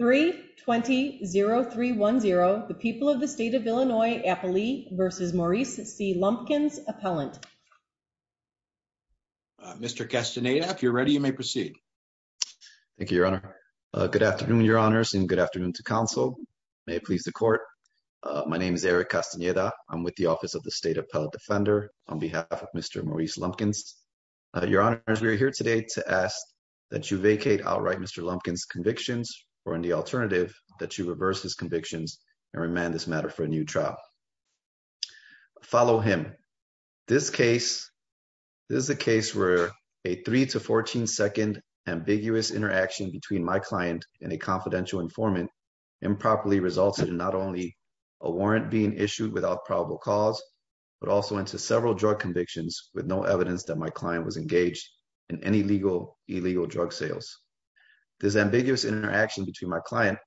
3-20-0310, the people of the state of Illinois, Appalee v. Maurice C. Lumpkins, Appellant. Mr. Castaneda, if you're ready, you may proceed. Thank you, Your Honor. Good afternoon, Your Honors, and good afternoon to counsel. May it please the Court. My name is Eric Castaneda. I'm with the Office of the State Appellate Defender on behalf of Mr. Maurice Lumpkins. Your Honors, we are here today to ask that you vacate outright Mr. Lumpkins' convictions or, in the alternative, that you reverse his convictions and remand this matter for a new trial. Follow him. This is a case where a 3-14 second ambiguous interaction between my client and a confidential informant improperly resulted in not only a warrant being issued without probable cause, but also into several drug convictions with no evidence that my client was engaged in any illegal drug sales. This ambiguous interaction between my client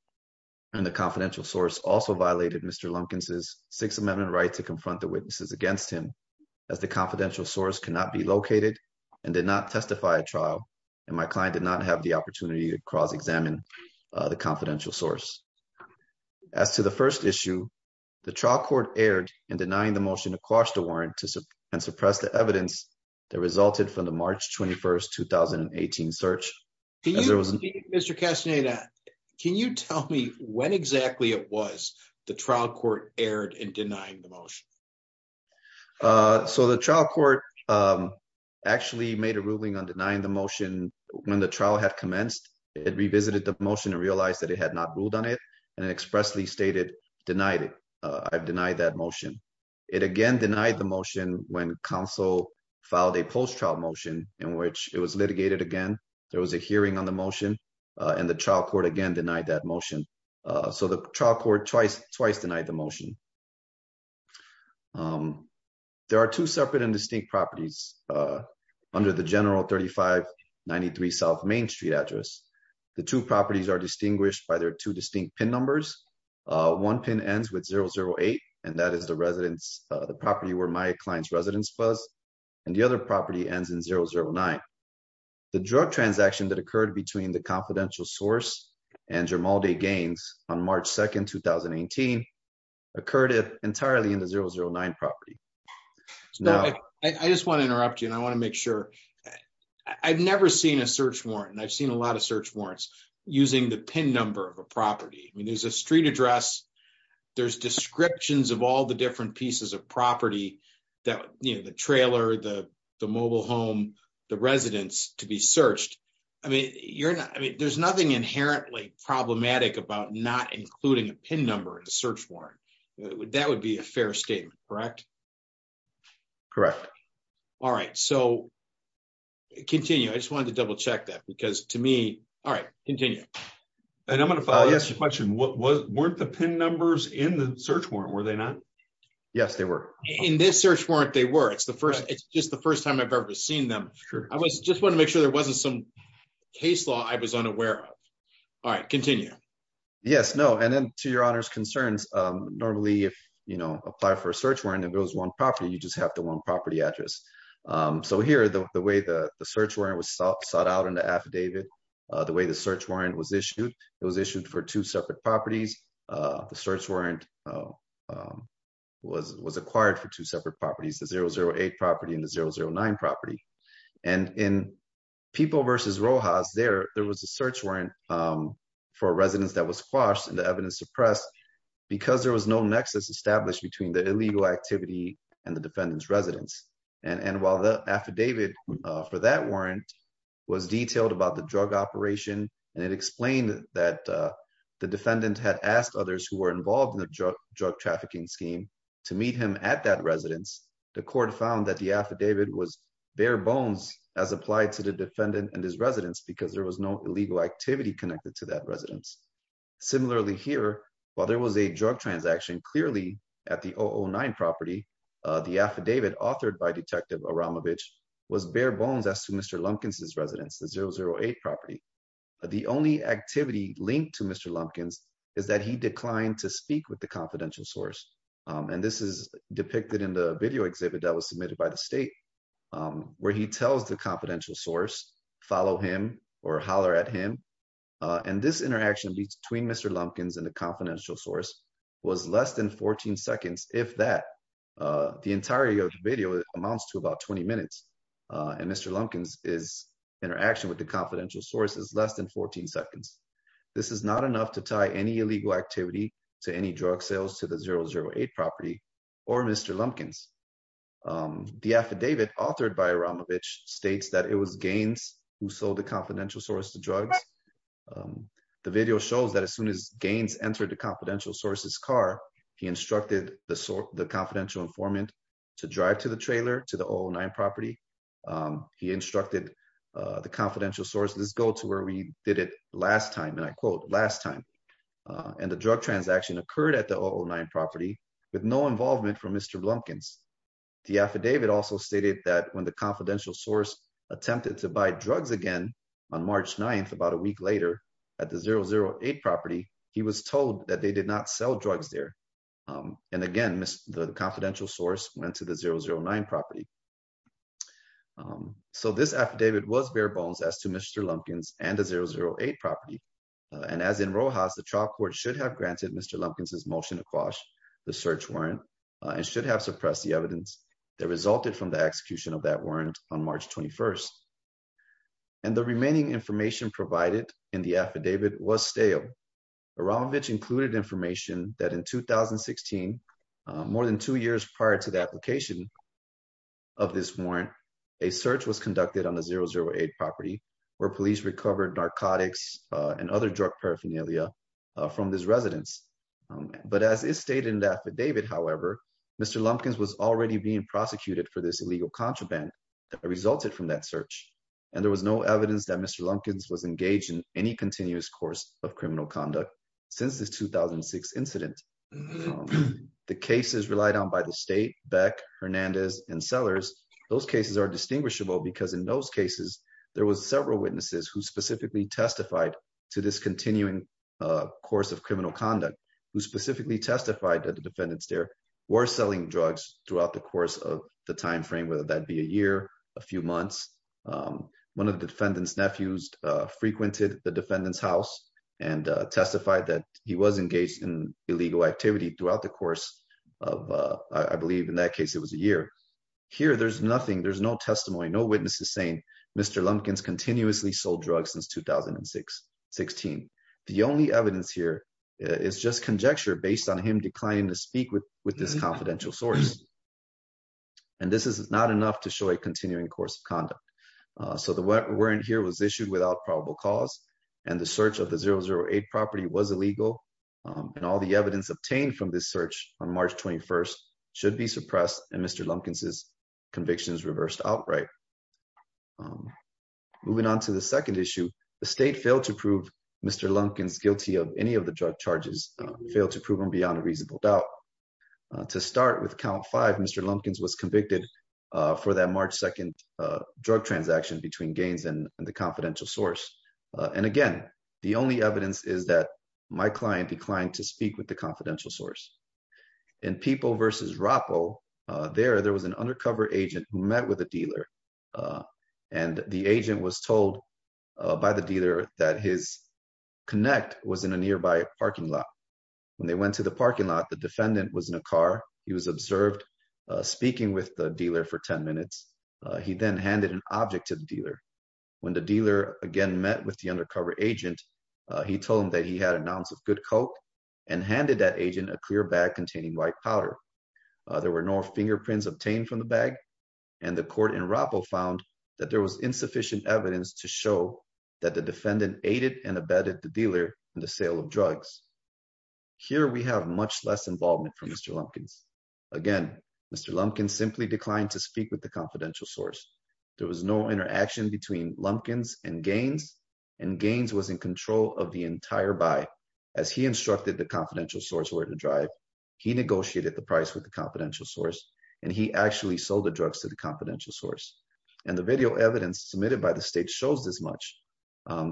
and the confidential source also violated Mr. Lumpkins' Sixth Amendment right to confront the witnesses against him, as the confidential source cannot be located and did not testify at trial, and my client did not have the opportunity to cross-examine the confidential source. As to the first issue, the trial court erred in denying the motion to quash the warrant and from the March 21, 2018 search. Mr. Castaneda, can you tell me when exactly it was the trial court erred in denying the motion? So the trial court actually made a ruling on denying the motion when the trial had commenced. It revisited the motion and realized that it had not ruled on it and expressly stated, denied it. I've denied that motion. It again denied the motion when counsel filed a post-trial motion in which it was litigated again. There was a hearing on the motion and the trial court again denied that motion. So the trial court twice denied the motion. There are two separate and distinct properties under the General 3593 South Main Street address. The two properties are distinguished by their two distinct PIN numbers. One PIN ends with 008, and that is the residence, the property where my client's residence was, and the other property ends in 009. The drug transaction that occurred between the confidential source and Germaldi Gaines on March 2, 2018 occurred entirely in the 009 property. I just want to interrupt you, and I want to make sure. I've never seen a search warrant, and I've seen a lot of search warrants using the PIN number of a property. I mean, there's a street address, there's descriptions of all the different pieces of property that, you know, the trailer, the mobile home, the residence to be searched. I mean, you're not, I mean, there's nothing inherently problematic about not including a PIN number in the search warrant. That would be a fair statement, correct? Correct. All right, so continue. I just wanted to double check that because to me, all right, continue. And I'm going to follow up on your question. Weren't the PIN numbers in the search warrant, were they not? Yes, they were. In this search warrant, they were. It's the first, it's just the first time I've ever seen them. Sure. I was, just want to make sure there wasn't some case law I was unaware of. All right, continue. Yes, no, and then to your honor's concerns, normally if, you know, apply for a search warrant, if it was one property, you just have the one property address. So here, the way the search warrant was sought out in the way the search warrant was issued, it was issued for two separate properties. The search warrant was acquired for two separate properties, the 008 property and the 009 property. And in People versus Rojas, there was a search warrant for a residence that was squashed and the evidence suppressed because there was no nexus established between the illegal activity and the defendant's residence. And while the affidavit for that warrant was detailed about the drug operation and it explained that the defendant had asked others who were involved in the drug trafficking scheme to meet him at that residence, the court found that the affidavit was bare bones as applied to the defendant and his residence because there was no illegal activity connected to that residence. Similarly here, while there was a drug transaction clearly at the 009 property, the affidavit authored by Detective Aramovich was bare bones as to Mr. Lumpkins' residence, the 008 property. The only activity linked to Mr. Lumpkins is that he declined to speak with the confidential source. And this is depicted in the video exhibit that was submitted by the state, where he tells the confidential source, follow him or holler at him. And this interaction between Mr. Lumpkins and the confidential source was less than 14 seconds, if that. The entirety of the video amounts to about 20 minutes and Mr. Lumpkins' interaction with the confidential source is less than 14 seconds. This is not enough to tie any illegal activity to any drug sales to the 008 property or Mr. Lumpkins. The affidavit authored by Aramovich states that it was Gaines who sold the confidential source to drugs. The video shows that as soon as the confidential informant to drive to the trailer to the 009 property, he instructed the confidential source, let's go to where we did it last time. And I quote, last time. And the drug transaction occurred at the 009 property with no involvement from Mr. Lumpkins. The affidavit also stated that when the confidential source attempted to buy drugs again on March 9th, about a week later at the 008 property, he was told that they did not sell drugs there. And again, the confidential source went to the 009 property. So this affidavit was bare bones as to Mr. Lumpkins and the 008 property. And as in Rojas, the trial court should have granted Mr. Lumpkins' motion to quash the search warrant and should have suppressed the evidence that resulted from the execution of that warrant on March 21st. And the remaining information provided in the affidavit was stale. Aramovich included information that in 2016, more than two years prior to the application of this warrant, a search was conducted on the 008 property where police recovered narcotics and other drug paraphernalia from this residence. But as is stated in the affidavit, however, Mr. Lumpkins was already being prosecuted for this illegal contraband that resulted from that search. And there was no evidence that Mr. Lumpkins was engaged in any continuous course of criminal conduct since this 2006 incident. The cases relied on by the state, Beck, Hernandez, and Sellers, those cases are distinguishable because in those cases, there was several witnesses who specifically testified to this continuing course of criminal conduct, who specifically testified that the defendants there were selling drugs throughout the course of the timeframe, whether that be a year, a few months. One of the defendant's nephews frequented the defendant's house and testified that he was engaged in illegal activity throughout the course of, I believe in that case, it was a year. Here, there's nothing, there's no testimony, no witnesses saying Mr. Lumpkins continuously sold drugs since 2016. The only evidence here is just conjecture based on him declining to speak with this confidential source. And this is not enough to show a continuing course of conduct. So the warrant here was issued without probable cause and the search of the 008 property was illegal. And all the evidence obtained from this search on March 21st should be suppressed and Mr. Lumpkins' convictions reversed outright. Moving on to the second issue, the state failed to prove Mr. Lumpkins guilty of any of the drug charges, failed to prove him beyond a reasonable doubt. To start with count five, Mr. Lumpkins was convicted for that March 2nd drug transaction between Gaines and the confidential source. And again, the only evidence is that my client declined to speak with the confidential source. In People versus Rappo, there, there was an undercover agent who met with a dealer and the agent was told by the dealer that his was in a nearby parking lot. When they went to the parking lot, the defendant was in a car, he was observed speaking with the dealer for 10 minutes. He then handed an object to the dealer. When the dealer again met with the undercover agent, he told him that he had an ounce of good Coke and handed that agent a clear bag containing white powder. There were no fingerprints obtained from the bag and the court in Rappo found that there was insufficient evidence to show that the defendant aided and abetted the dealer in the sale of drugs. Here we have much less involvement from Mr. Lumpkins. Again, Mr. Lumpkins simply declined to speak with the confidential source. There was no interaction between Lumpkins and Gaines and Gaines was in control of the entire buy. As he instructed the confidential source where to drive, he negotiated the price with the confidential source and he actually sold the drugs to the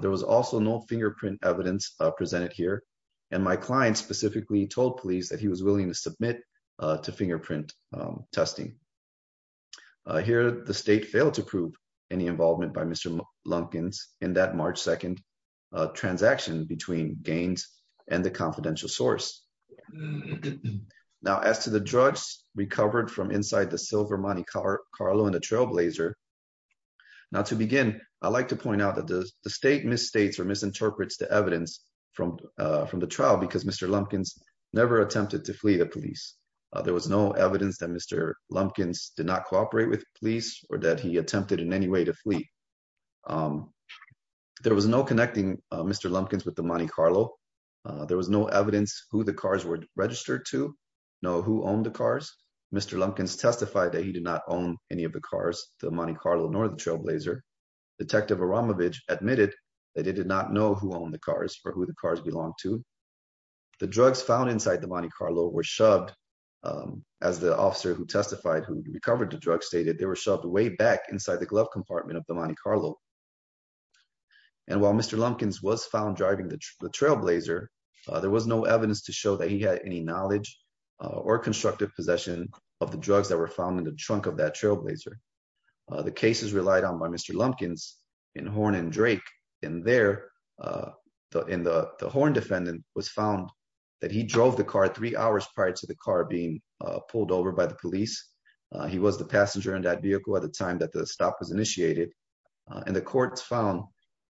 There was also no fingerprint evidence presented here and my client specifically told police that he was willing to submit to fingerprint testing. Here the state failed to prove any involvement by Mr. Lumpkins in that March 2 transaction between Gaines and the confidential source. Now as to the drugs recovered from inside the silver Monte Carlo and the trailblazer, now to begin, I'd like to point out that the state misstates or misinterprets the evidence from the trial because Mr. Lumpkins never attempted to flee the police. There was no evidence that Mr. Lumpkins did not cooperate with police or that he attempted in any way to flee. There was no connecting Mr. Lumpkins with the Monte Carlo. There was no evidence who the cars were registered to, no who owned the cars. Mr. Lumpkins testified that he did not own any of the Monte Carlo nor the trailblazer. Detective Aramovich admitted that he did not know who owned the cars or who the cars belonged to. The drugs found inside the Monte Carlo were shoved as the officer who testified who recovered the drugs stated they were shoved way back inside the glove compartment of the Monte Carlo. And while Mr. Lumpkins was found driving the trailblazer, there was no evidence to show that he had any knowledge or constructive possession of the drugs that were found in the trunk of that trailblazer. The cases relied on by Mr. Lumpkins in Horn and Drake and there in the Horn defendant was found that he drove the car three hours prior to the car being pulled over by the police. He was the passenger in that vehicle at the time that the stop was initiated and the courts found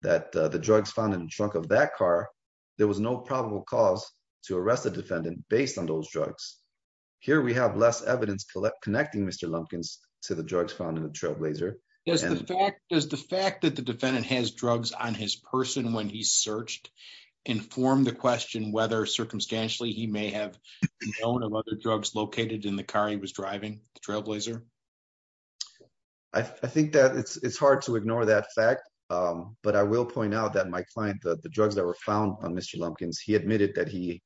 that the drugs found in the trunk of that car, there was no probable cause to arrest the defendant based on those drugs. Here we have less evidence connecting Mr. Lumpkins to the drugs found in the trailblazer. Does the fact that the defendant has drugs on his person when he searched inform the question whether circumstantially he may have known of other drugs located in the car he was driving, the trailblazer? I think that it's hard to ignore that fact, but I will point out that my client, the drugs that were found on Mr. Lumpkins, he admitted that he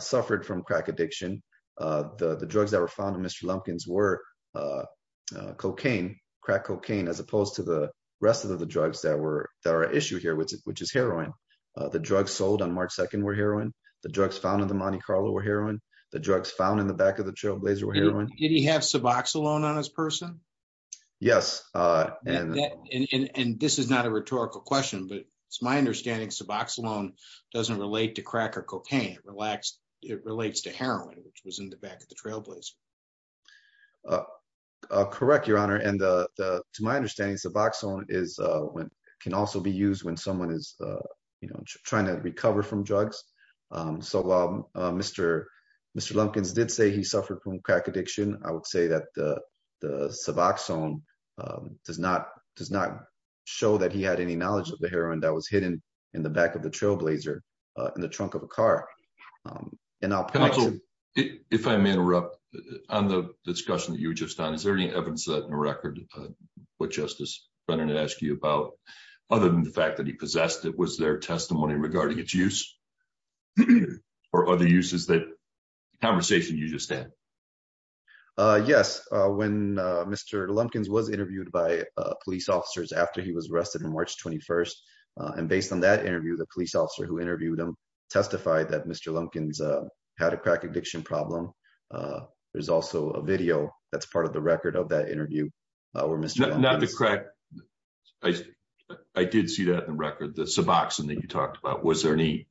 suffered from crack addiction. The drugs that were found in Mr. Lumpkins were cocaine, crack cocaine, as opposed to the rest of the drugs that are at issue here, which is heroin. The drugs sold on March 2nd were heroin. The drugs found in the Monte Carlo were heroin. The drugs found in the back of the trailblazer were heroin. Did he have Suboxone on his person? Yes. And this is not a rhetorical question, but it's my understanding Suboxone doesn't relate to crack or cocaine. It relates to heroin, which was in the back of the trailblazer. Correct, your honor. And to my understanding, Suboxone can also be used when someone is trying to recover from drugs. So while Mr. Lumpkins did say he suffered from crack addiction, I would say that the Suboxone does not show that he had any knowledge of the heroin that was hidden in the back of the trailblazer in the trunk of a car. If I may interrupt on the discussion that you were just on, is there any evidence that in the record what Justice Brennan asked you about, other than the fact that he possessed it, was there testimony regarding its use or other uses that conversation you just had? Yes. When Mr. Lumpkins was interviewed by police officers after he was arrested on March 21st, and based on that interview, the police officer who interviewed him testified that Mr. Lumpkins had a crack addiction problem. There's also a video that's part of the record of that interview. I did see that in the record, the Suboxone that you talked about. Was there any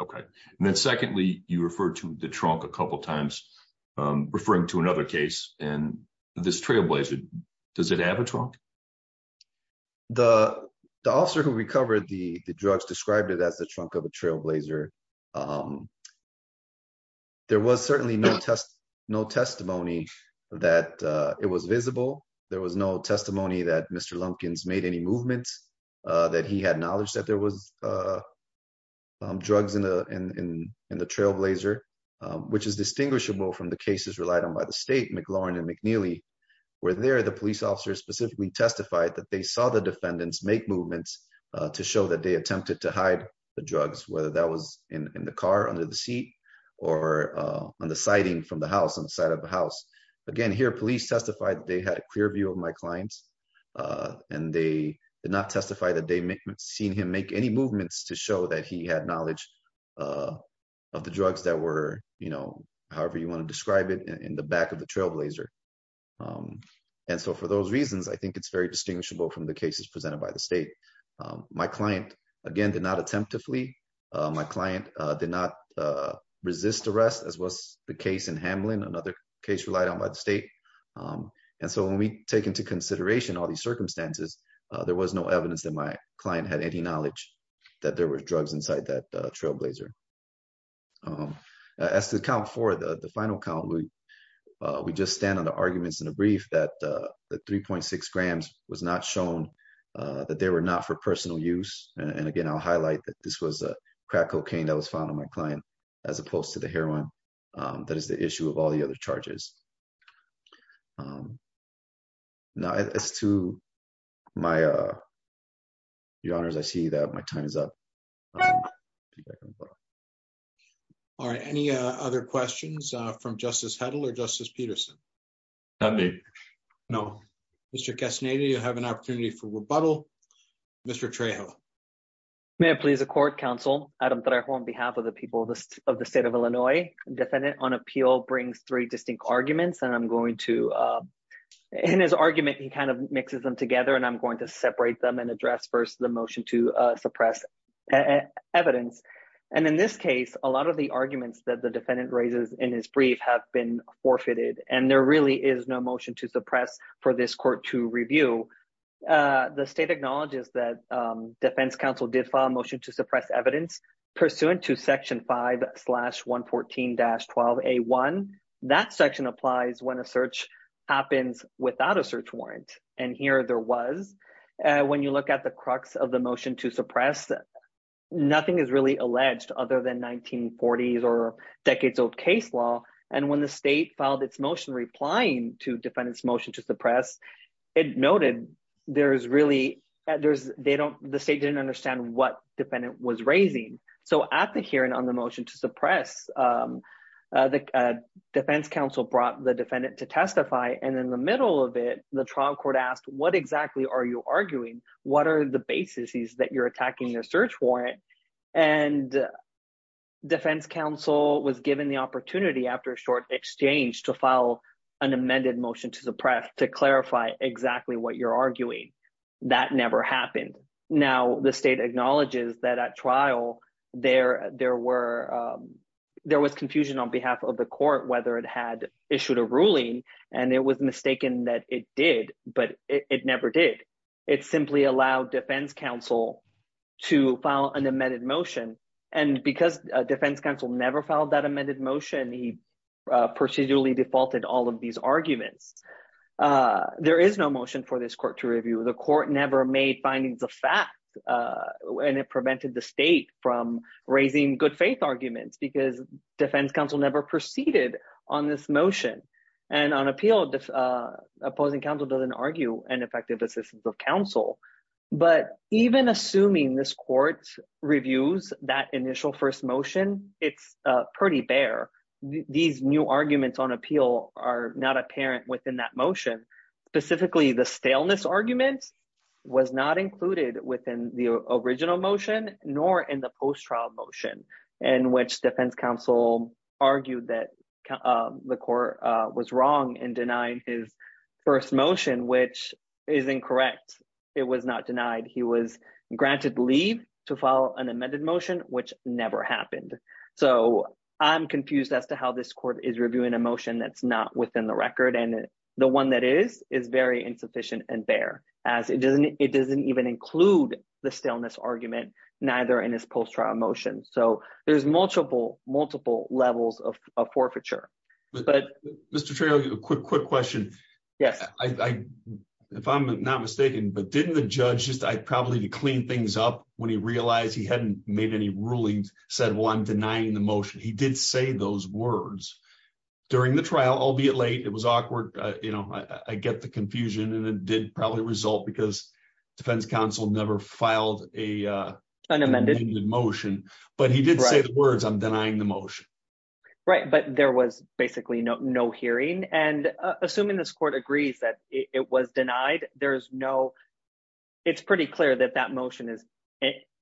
Okay. And then secondly, you referred to the trunk a couple times, referring to another case and this trailblazer, does it have a trunk? The officer who recovered the drugs described it as the trunk of a trailblazer. There was certainly no testimony that it was visible. There was no testimony that Mr. Lumpkins made any movements, that he had knowledge that there was drugs in the trailblazer, which is distinguishable from the cases relied on by the state, McLaurin and McNeely, where there the police officers specifically testified that they saw the defendants make movements to show that they attempted to hide the drugs, whether that was in the car, under the seat, or on the siding from the house, on the side of the house. Again, here, police testified they had a clear view of my clients, and they did not testify that they had seen him make any movements to show that he had knowledge of the drugs that were, however you want to describe it, in the back of the trailblazer. And so for those reasons, I think it's very distinguishable from the cases presented by the state. My client, again, did not attempt to flee. My client did not So when we take into consideration all these circumstances, there was no evidence that my client had any knowledge that there were drugs inside that trailblazer. As to count four, the final count, we just stand on the arguments in the brief that the 3.6 grams was not shown, that they were not for personal use. And again, I'll highlight that this was crack cocaine that was found on my client, as opposed to the heroin that is the Now as to my, your honors, I see that my time is up. All right, any other questions from Justice Hedl or Justice Peterson? Not me. No. Mr. Castaneda, you have an opportunity for rebuttal. Mr. Trejo. May I please accord, counsel, Adam Trejo on behalf of the people of the state of Illinois. Defendant on appeal brings three distinct arguments, and I'm going to, in his argument, he kind of mixes them together, and I'm going to separate them and address first the motion to suppress evidence. And in this case, a lot of the arguments that the defendant raises in his brief have been forfeited, and there really is no motion to suppress for this court to review. The state acknowledges that defense counsel did file a motion to suppress evidence pursuant to Section 5-114-12A1. That section applies when a search happens without a search warrant. And here there was. When you look at the crux of the motion to suppress, nothing is really alleged other than 1940s or decades old case law. And when the state filed its motion replying to defendant's motion to suppress, it noted there's really, there's, they don't, the state didn't understand what defendant was raising. So at the hearing on the motion to suppress, the defense counsel brought the defendant to testify, and in the middle of it, the trial court asked, what exactly are you arguing? What are the bases that you're attacking the search warrant? And defense counsel was given the opportunity after a short exchange to file an amended motion to suppress to clarify exactly what you're arguing. That never happened. Now, the state acknowledges that at trial, there was confusion on behalf of the court whether it had issued a ruling, and it was mistaken that it did, but it never did. It simply allowed defense counsel to file an amended motion. And because defense counsel never filed that amended motion, he procedurally defaulted all of these arguments. There is no motion for this court to review. The court never made findings of fact, and it prevented the state from raising good faith arguments because defense counsel never proceeded on this motion. And on appeal, opposing counsel doesn't argue an effective assistance of counsel. But even assuming this court reviews that initial first motion, it's pretty bare. These new arguments on appeal are not apparent within that motion. Specifically, the staleness argument was not included within the original motion, nor in the post-trial motion, in which defense counsel argued that the court was wrong in denying his first motion, which is incorrect. It was not denied. He was to file an amended motion, which never happened. So I'm confused as to how this court is reviewing a motion that's not within the record. And the one that is, is very insufficient and bare, as it doesn't even include the staleness argument, neither in his post-trial motion. So there's multiple, multiple levels of forfeiture. Mr. Trejo, a quick question. Yes. I, if I'm not mistaken, but didn't the judge just, I probably need to clean things up when he realized he hadn't made any rulings, said, well, I'm denying the motion. He did say those words during the trial, albeit late. It was awkward. I get the confusion and it did probably result because defense counsel never filed an amended motion, but he did say the words, I'm denying the motion. Right. But there was basically no hearing. And assuming this court agrees that it was denied, there's no, it's pretty clear that that motion is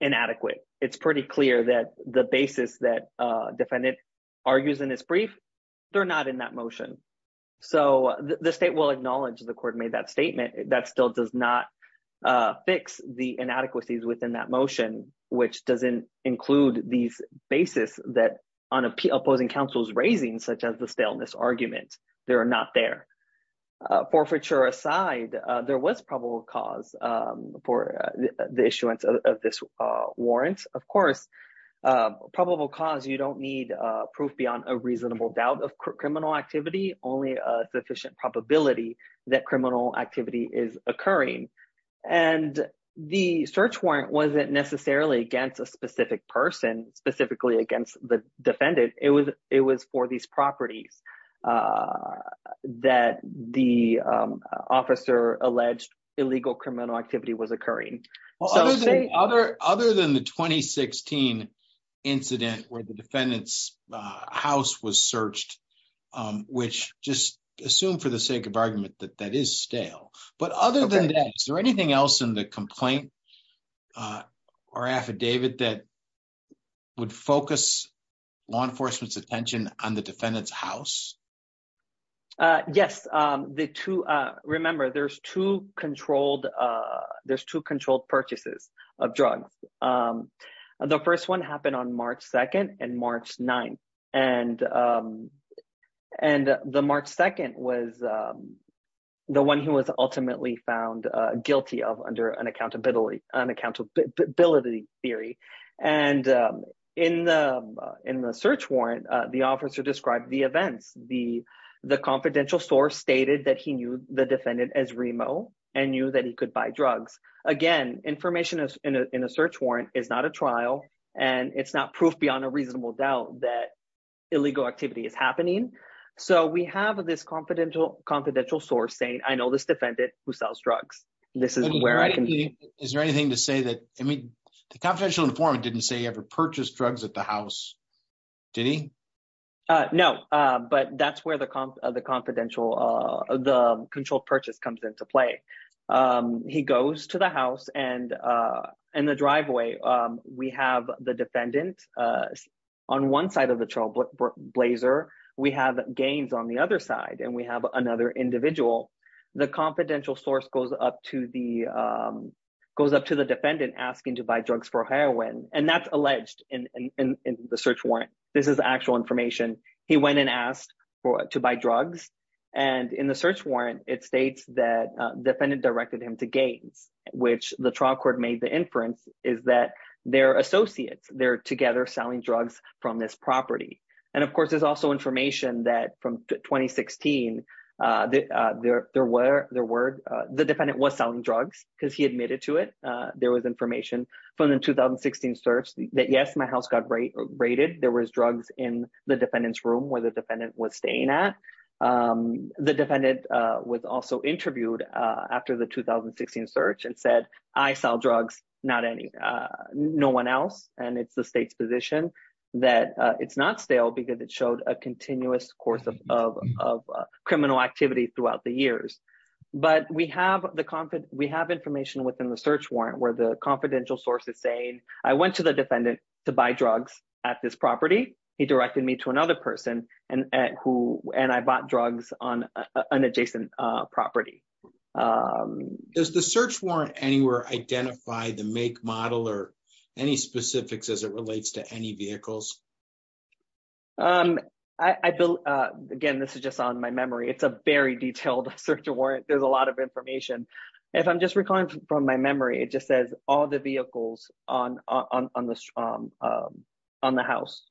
inadequate. It's pretty clear that the basis that a defendant argues in his brief, they're not in that motion. So the state will acknowledge the court made that statement. That still does not fix the inadequacies within that on opposing counsel's raising such as the staleness argument. They're not there. Forfeiture aside, there was probable cause for the issuance of this warrant. Of course, probable cause, you don't need proof beyond a reasonable doubt of criminal activity, only a sufficient probability that criminal activity is occurring. And the search warrant wasn't necessarily against a specific person specifically against the defendant. It was for these properties that the officer alleged illegal criminal activity was occurring. Other than the 2016 incident where the defendant's house was searched, which just assume for the sake of argument that that is stale. But other than that, is there anything else in the complaint or affidavit that would focus law enforcement's attention on the defendant's house? Yes. Remember, there's two controlled purchases of drugs. The first one happened on March 2nd and March 9th. And the March 2nd was the one who was ultimately found guilty of under an accountability theory. And in the search warrant, the officer described the events. The confidential source stated that he knew the defendant as Remo and knew that he could buy drugs. Again, information in a search warrant is not a trial and it's not proof beyond a reasonable doubt that illegal activity is confidential source saying, I know this defendant who sells drugs. This is where I can... Is there anything to say that, I mean, the confidential informant didn't say he ever purchased drugs at the house. Did he? No, but that's where the control purchase comes into play. He goes to the house and in the driveway, we have the defendant on one side of the trailblazer, we have Gaines on the other side, and we have another individual. The confidential source goes up to the defendant asking to buy drugs for heroin. And that's alleged in the search warrant. This is actual information. He went and asked to buy drugs. And in the search warrant, it states that defendant directed him to Gaines, which the trial court made the inference is that they're information that from 2016, the defendant was selling drugs because he admitted to it. There was information from the 2016 search that yes, my house got raided. There was drugs in the defendant's room where the defendant was staying at. The defendant was also interviewed after the 2016 search and said, I sell drugs, no one else. And it's the state's position that it's not stale because it showed a continuous course of criminal activity throughout the years. But we have information within the search warrant where the confidential source is saying, I went to the defendant to buy drugs at this property. He directed me to another person and I bought drugs on an adjacent property. Does the search warrant anywhere identify the make, model, or any specifics as it relates to any vehicles? Again, this is just on my memory. It's a very detailed search warrant. There's a lot of information. If I'm just recalling from my memory, it just says all the vehicles on the house.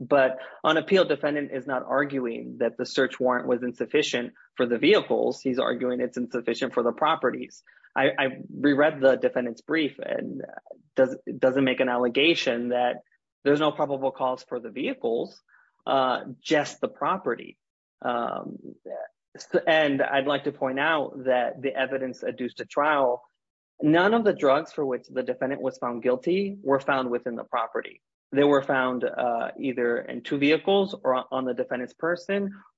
But an appeal defendant is not arguing that the search warrant was insufficient for the vehicles. He's arguing it's insufficient for the properties. I reread the defendant's brief and it doesn't make an allegation that there's no probable cause for the vehicles, just the property. And I'd like to point out that the evidence adduced to trial, none of the drugs for which the defendant was found guilty were found within the property. They were found either in two vehicles or on the defendant's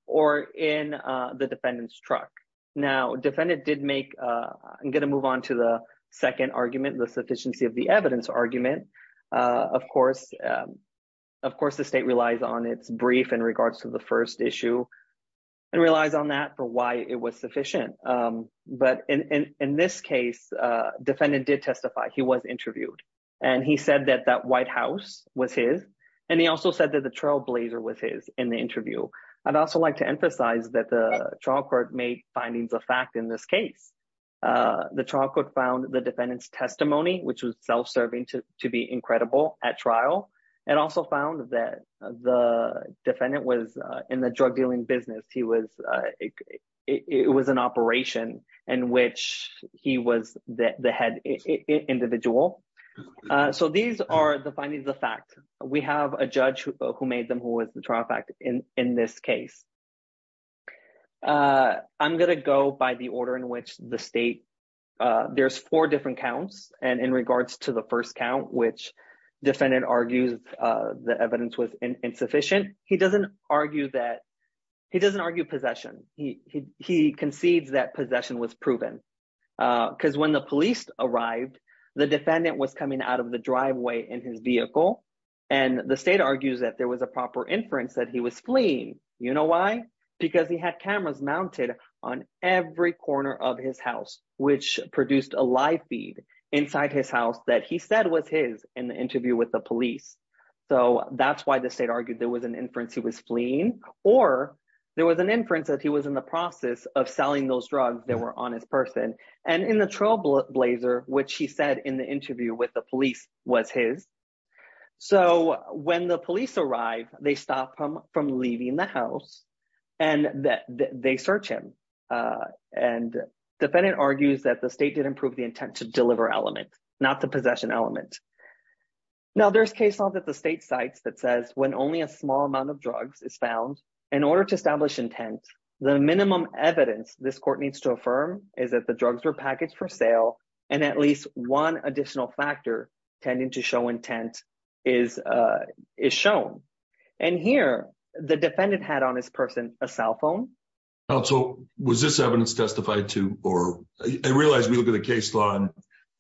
or in the defendant's truck. Now, defendant did make, I'm going to move on to the second argument, the sufficiency of the evidence argument. Of course, the state relies on its brief in regards to the first issue and relies on that for why it was sufficient. But in this case, defendant did testify. He was interviewed. And he said that that White House was his. And he also said that the trailblazer was his in the interview. I'd also like to emphasize that the trial court made findings of fact in this case. The trial court found the defendant's testimony, which was self-serving to be incredible at trial, and also found that the defendant was in the drug dealing business. It was an operation in which he was the head individual. So these are the findings of fact. We have a judge who made them, who was the trial fact in this case. I'm going to go by the order in which the state, there's four different counts. And in regards to the first count, which defendant argues the evidence was insufficient, he doesn't argue possession. He concedes that possession was proven. Because when the police arrived, the defendant was coming out of the driveway in his vehicle. And the state argues that there was a proper inference that he was fleeing. You know why? Because he had cameras mounted on every corner of his house, which produced a live feed inside his house that he said was his in the interview with the police. So that's why the state argued there was an inference he was fleeing. Or there was an inference that he was in the process of selling those drugs that were on his person. And in the trailblazer, which he said in the interview with the police was his. So when the police arrived, they stopped him from leaving the house. And they search him. And defendant argues that the state did improve the intent to deliver element, not the possession element. Now there's case law that the state cites that says when only a small amount of drugs is found, in order to establish intent, the minimum evidence this court needs to affirm is that the drugs were packaged for sale. And at least one additional factor, tending to show intent, is shown. And here, the defendant had on his person a cell phone. Also, was this evidence testified to? Or I realize we look at the case law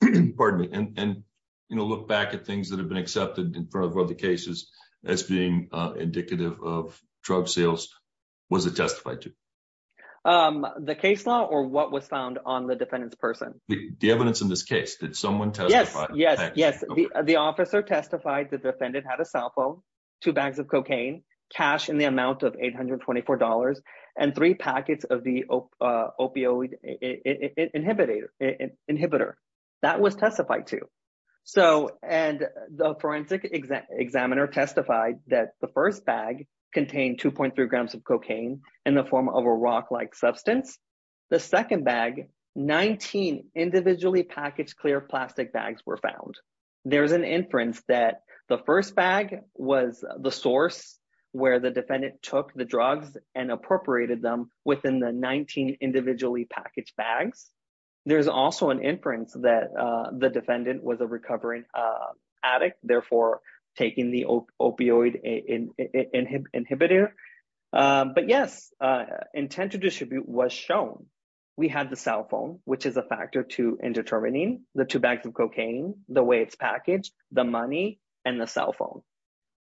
and, pardon me, and, you know, look back at things that have been accepted in front of other cases as being indicative of drug sales. Was it testified to? The case law or what was found on the defendant's person? The evidence in this case. Did someone testify? Yes, yes. The officer testified the defendant had a cell phone, two bags of cocaine, cash in the amount of $824, and three packets of the opioid inhibitor. That was testified to. So, and the forensic examiner testified that the first bag contained 2.3 grams of cocaine in the form of a rock-like substance. The second bag, 19 individually packaged clear plastic bags were found. There's an inference that the first bag was the source where the defendant took the drugs and appropriated them within the 19 individually packaged bags. There's also an inference that the defendant was a recovering addict, therefore taking the opioid inhibitor. But yes, intent to distribute was shown. We had the cell phone, which is a factor to indetermining, the two bags of cocaine, the way it's packaged, the money, and the cell phone.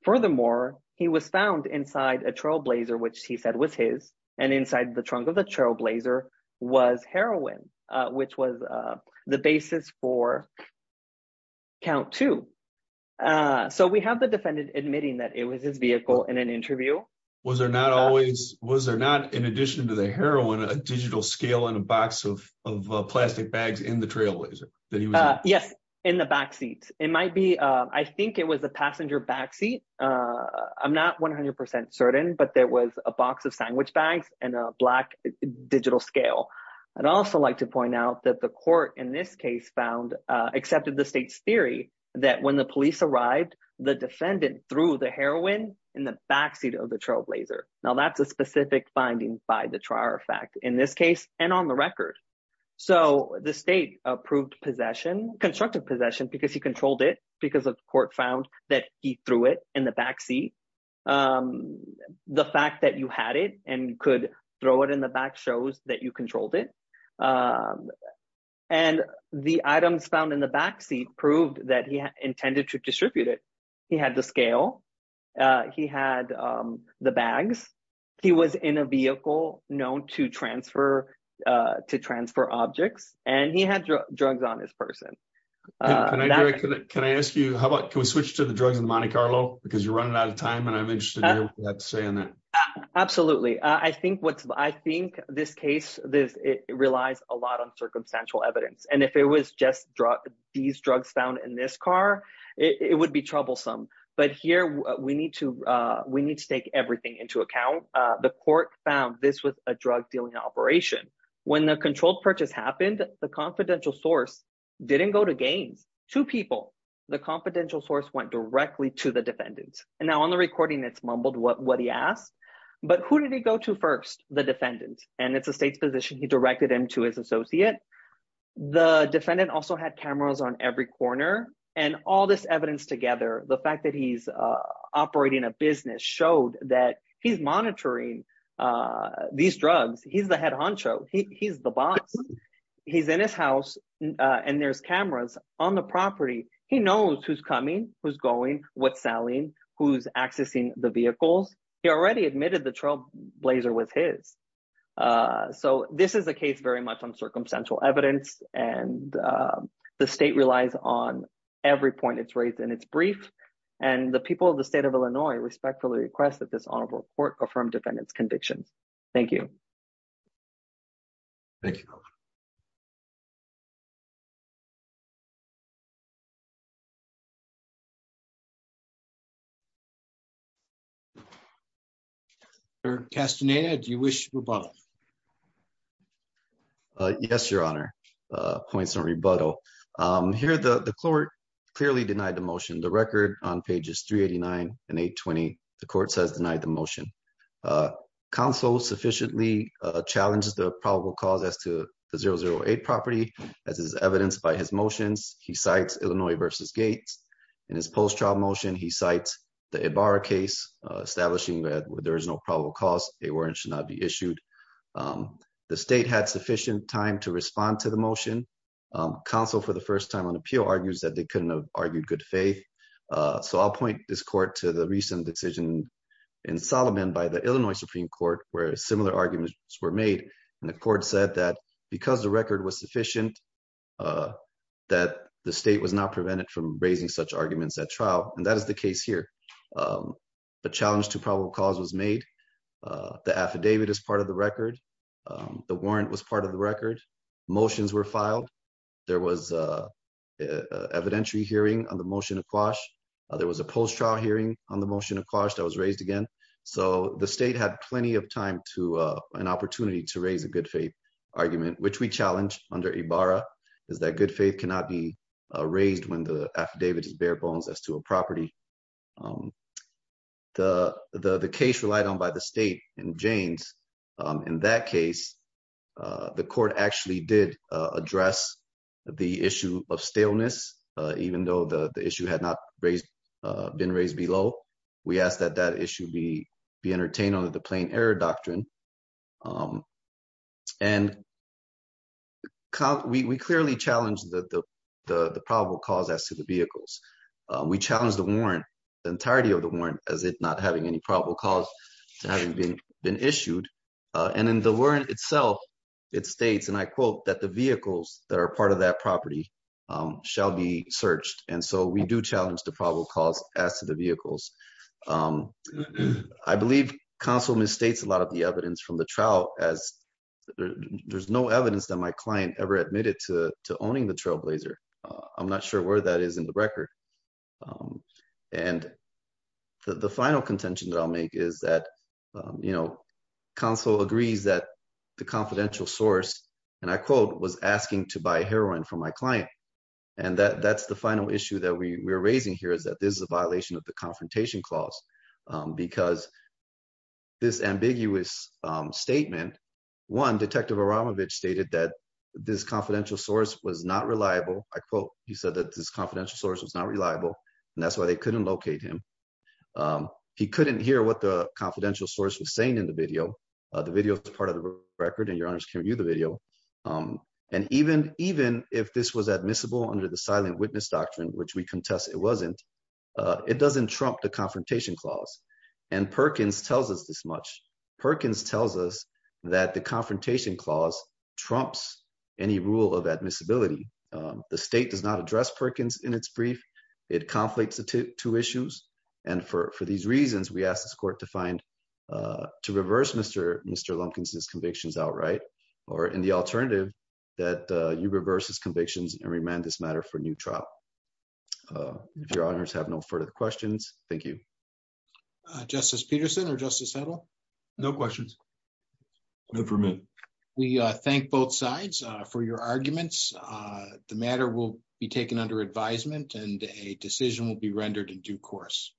Furthermore, he was found inside a trailblazer, which he said was his, and inside the trunk of the trailblazer was heroin, which was the basis for count two. So we have the defendant admitting that it was his vehicle in an interview. Was there not always, was there not, in addition to the heroin, a digital scale in a box of plastic bags in the trailblazer that he was in? Yes, in the backseat. It might be, I think it was a passenger backseat. I'm not 100% certain, but there was a box of sandwich bags and a black found, accepted the state's theory that when the police arrived, the defendant threw the heroin in the backseat of the trailblazer. Now that's a specific finding by the trier fact in this case, and on the record. So the state approved possession, constructive possession, because he controlled it because of court found that he threw it in the backseat. The fact that you had it and could throw it in the back shows that you controlled it. Um, and the items found in the backseat proved that he intended to distribute it. He had the scale. Uh, he had, um, the bags. He was in a vehicle known to transfer, uh, to transfer objects and he had drugs on his person. Uh, can I, can I ask you, how about, can we switch to the drugs in Monte Carlo? Because you're running out of time and I'm interested in that. Absolutely. I think what's, I think this case, this, it relies a lot on circumstantial evidence. And if it was just drug, these drugs found in this car, it would be troublesome. But here we need to, uh, we need to take everything into account. Uh, the court found this with a drug dealing operation. When the controlled purchase happened, the confidential source didn't go to gains, two people, the confidential source went directly to the defendant. And now on the recording, it's mumbled what, what But who did he go to first? The defendant and it's a state's position. He directed him to his associate. The defendant also had cameras on every corner and all this evidence together, the fact that he's, uh, operating a business showed that he's monitoring, uh, these drugs. He's the head honcho. He he's the boss. He's in his house. Uh, and there's cameras on the property. He knows who's coming, who's going, what's selling, who's accessing the vehicles. He already admitted the trailblazer was his. Uh, so this is a case very much on circumstantial evidence. And, um, the state relies on every point it's raised in its brief and the people of the state of Illinois respectfully request that this honorable court from defendants convictions. Thank you. Thank you. Thank you, sir. Castaneda, do you wish to rebuttal? Uh, yes, your honor, uh, points on rebuttal. Um, here, the, the court clearly denied the motion, the record on pages three 89 and eight 20, the court says denied the motion. Uh, council sufficiently, uh, challenges the probable cause as to the zero zero eight property as is evidenced by his motions. He cites Illinois versus gates and his post-trial motion. He cites the Ibarra case, uh, establishing that there is no probable cause a warrant should not be issued. Um, the state had sufficient time to respond to the motion. Um, counsel for the first time on appeal argues that they couldn't have argued good faith. Uh, so I'll point this court to the recent decision in Solomon by the Illinois Supreme court, where similar arguments were made. And the court said that because the record was sufficient, uh, that the state was not prevented from raising such arguments at trial. And that is the case here. Um, but challenge to probable cause was made. Uh, the affidavit is part of the record. Um, the warrant was part of the record. Motions were filed. There was, uh, uh, evidentiary hearing on the motion of quash. Uh, there was a post trial hearing on the motion of quash that was raised again. So the state had plenty of time to, uh, an opportunity to raise a good faith argument, which we challenged under Ibarra is that good faith cannot be raised when the affidavit is bare bones as to a property. Um, the, the, the case relied on by the state and Jane's, um, in that case, uh, the court actually did, uh, address the issue of staleness. Uh, even though the issue had not raised, uh, been raised We asked that that issue be, be entertained under the plain error doctrine. Um, and we, we clearly challenged the, the, the, the probable cause as to the vehicles. We challenged the warrant, the entirety of the warrant as it not having any probable cause to having been issued. Uh, and in the warrant itself, it states, and I quote that the vehicles that are part of that property, um, shall be searched. And so we do challenge the probable cause as to the vehicles. Um, I believe council misstates a lot of the evidence from the trial as there's no evidence that my client ever admitted to owning the trailblazer. Uh, I'm not sure where that is in the record. Um, and the final contention that I'll make is that, you know, council agrees that the confidential source and I quote was asking to buy heroin from my client. And that that's the final issue that we were raising here is that this is a violation of the confrontation clause. Um, because this ambiguous, um, statement one detective Aramovich stated that this confidential source was not reliable. I quote, he said that this confidential source was not reliable and that's why they couldn't locate him. Um, he couldn't hear what the confidential source was saying in the video. Uh, the video is part of the record and your admissible under the silent witness doctrine, which we contest. It wasn't, uh, it doesn't trump the confrontation clause. And Perkins tells us this much. Perkins tells us that the confrontation clause trumps any rule of admissibility. Um, the state does not address Perkins in its brief. It conflicts the two issues. And for, for these reasons, we asked this court to find, uh, to reverse Mr. Mr. Lumpkins, his convictions outright, or in the alternative that, uh, you reverse his convictions and remand this matter for new trial. Uh, if your honors have no further questions, thank you. Uh, justice Peterson or justice settle. No questions for me. We thank both sides for your arguments. Uh, the matter will be taken under advisement and a decision will be rendered in due course.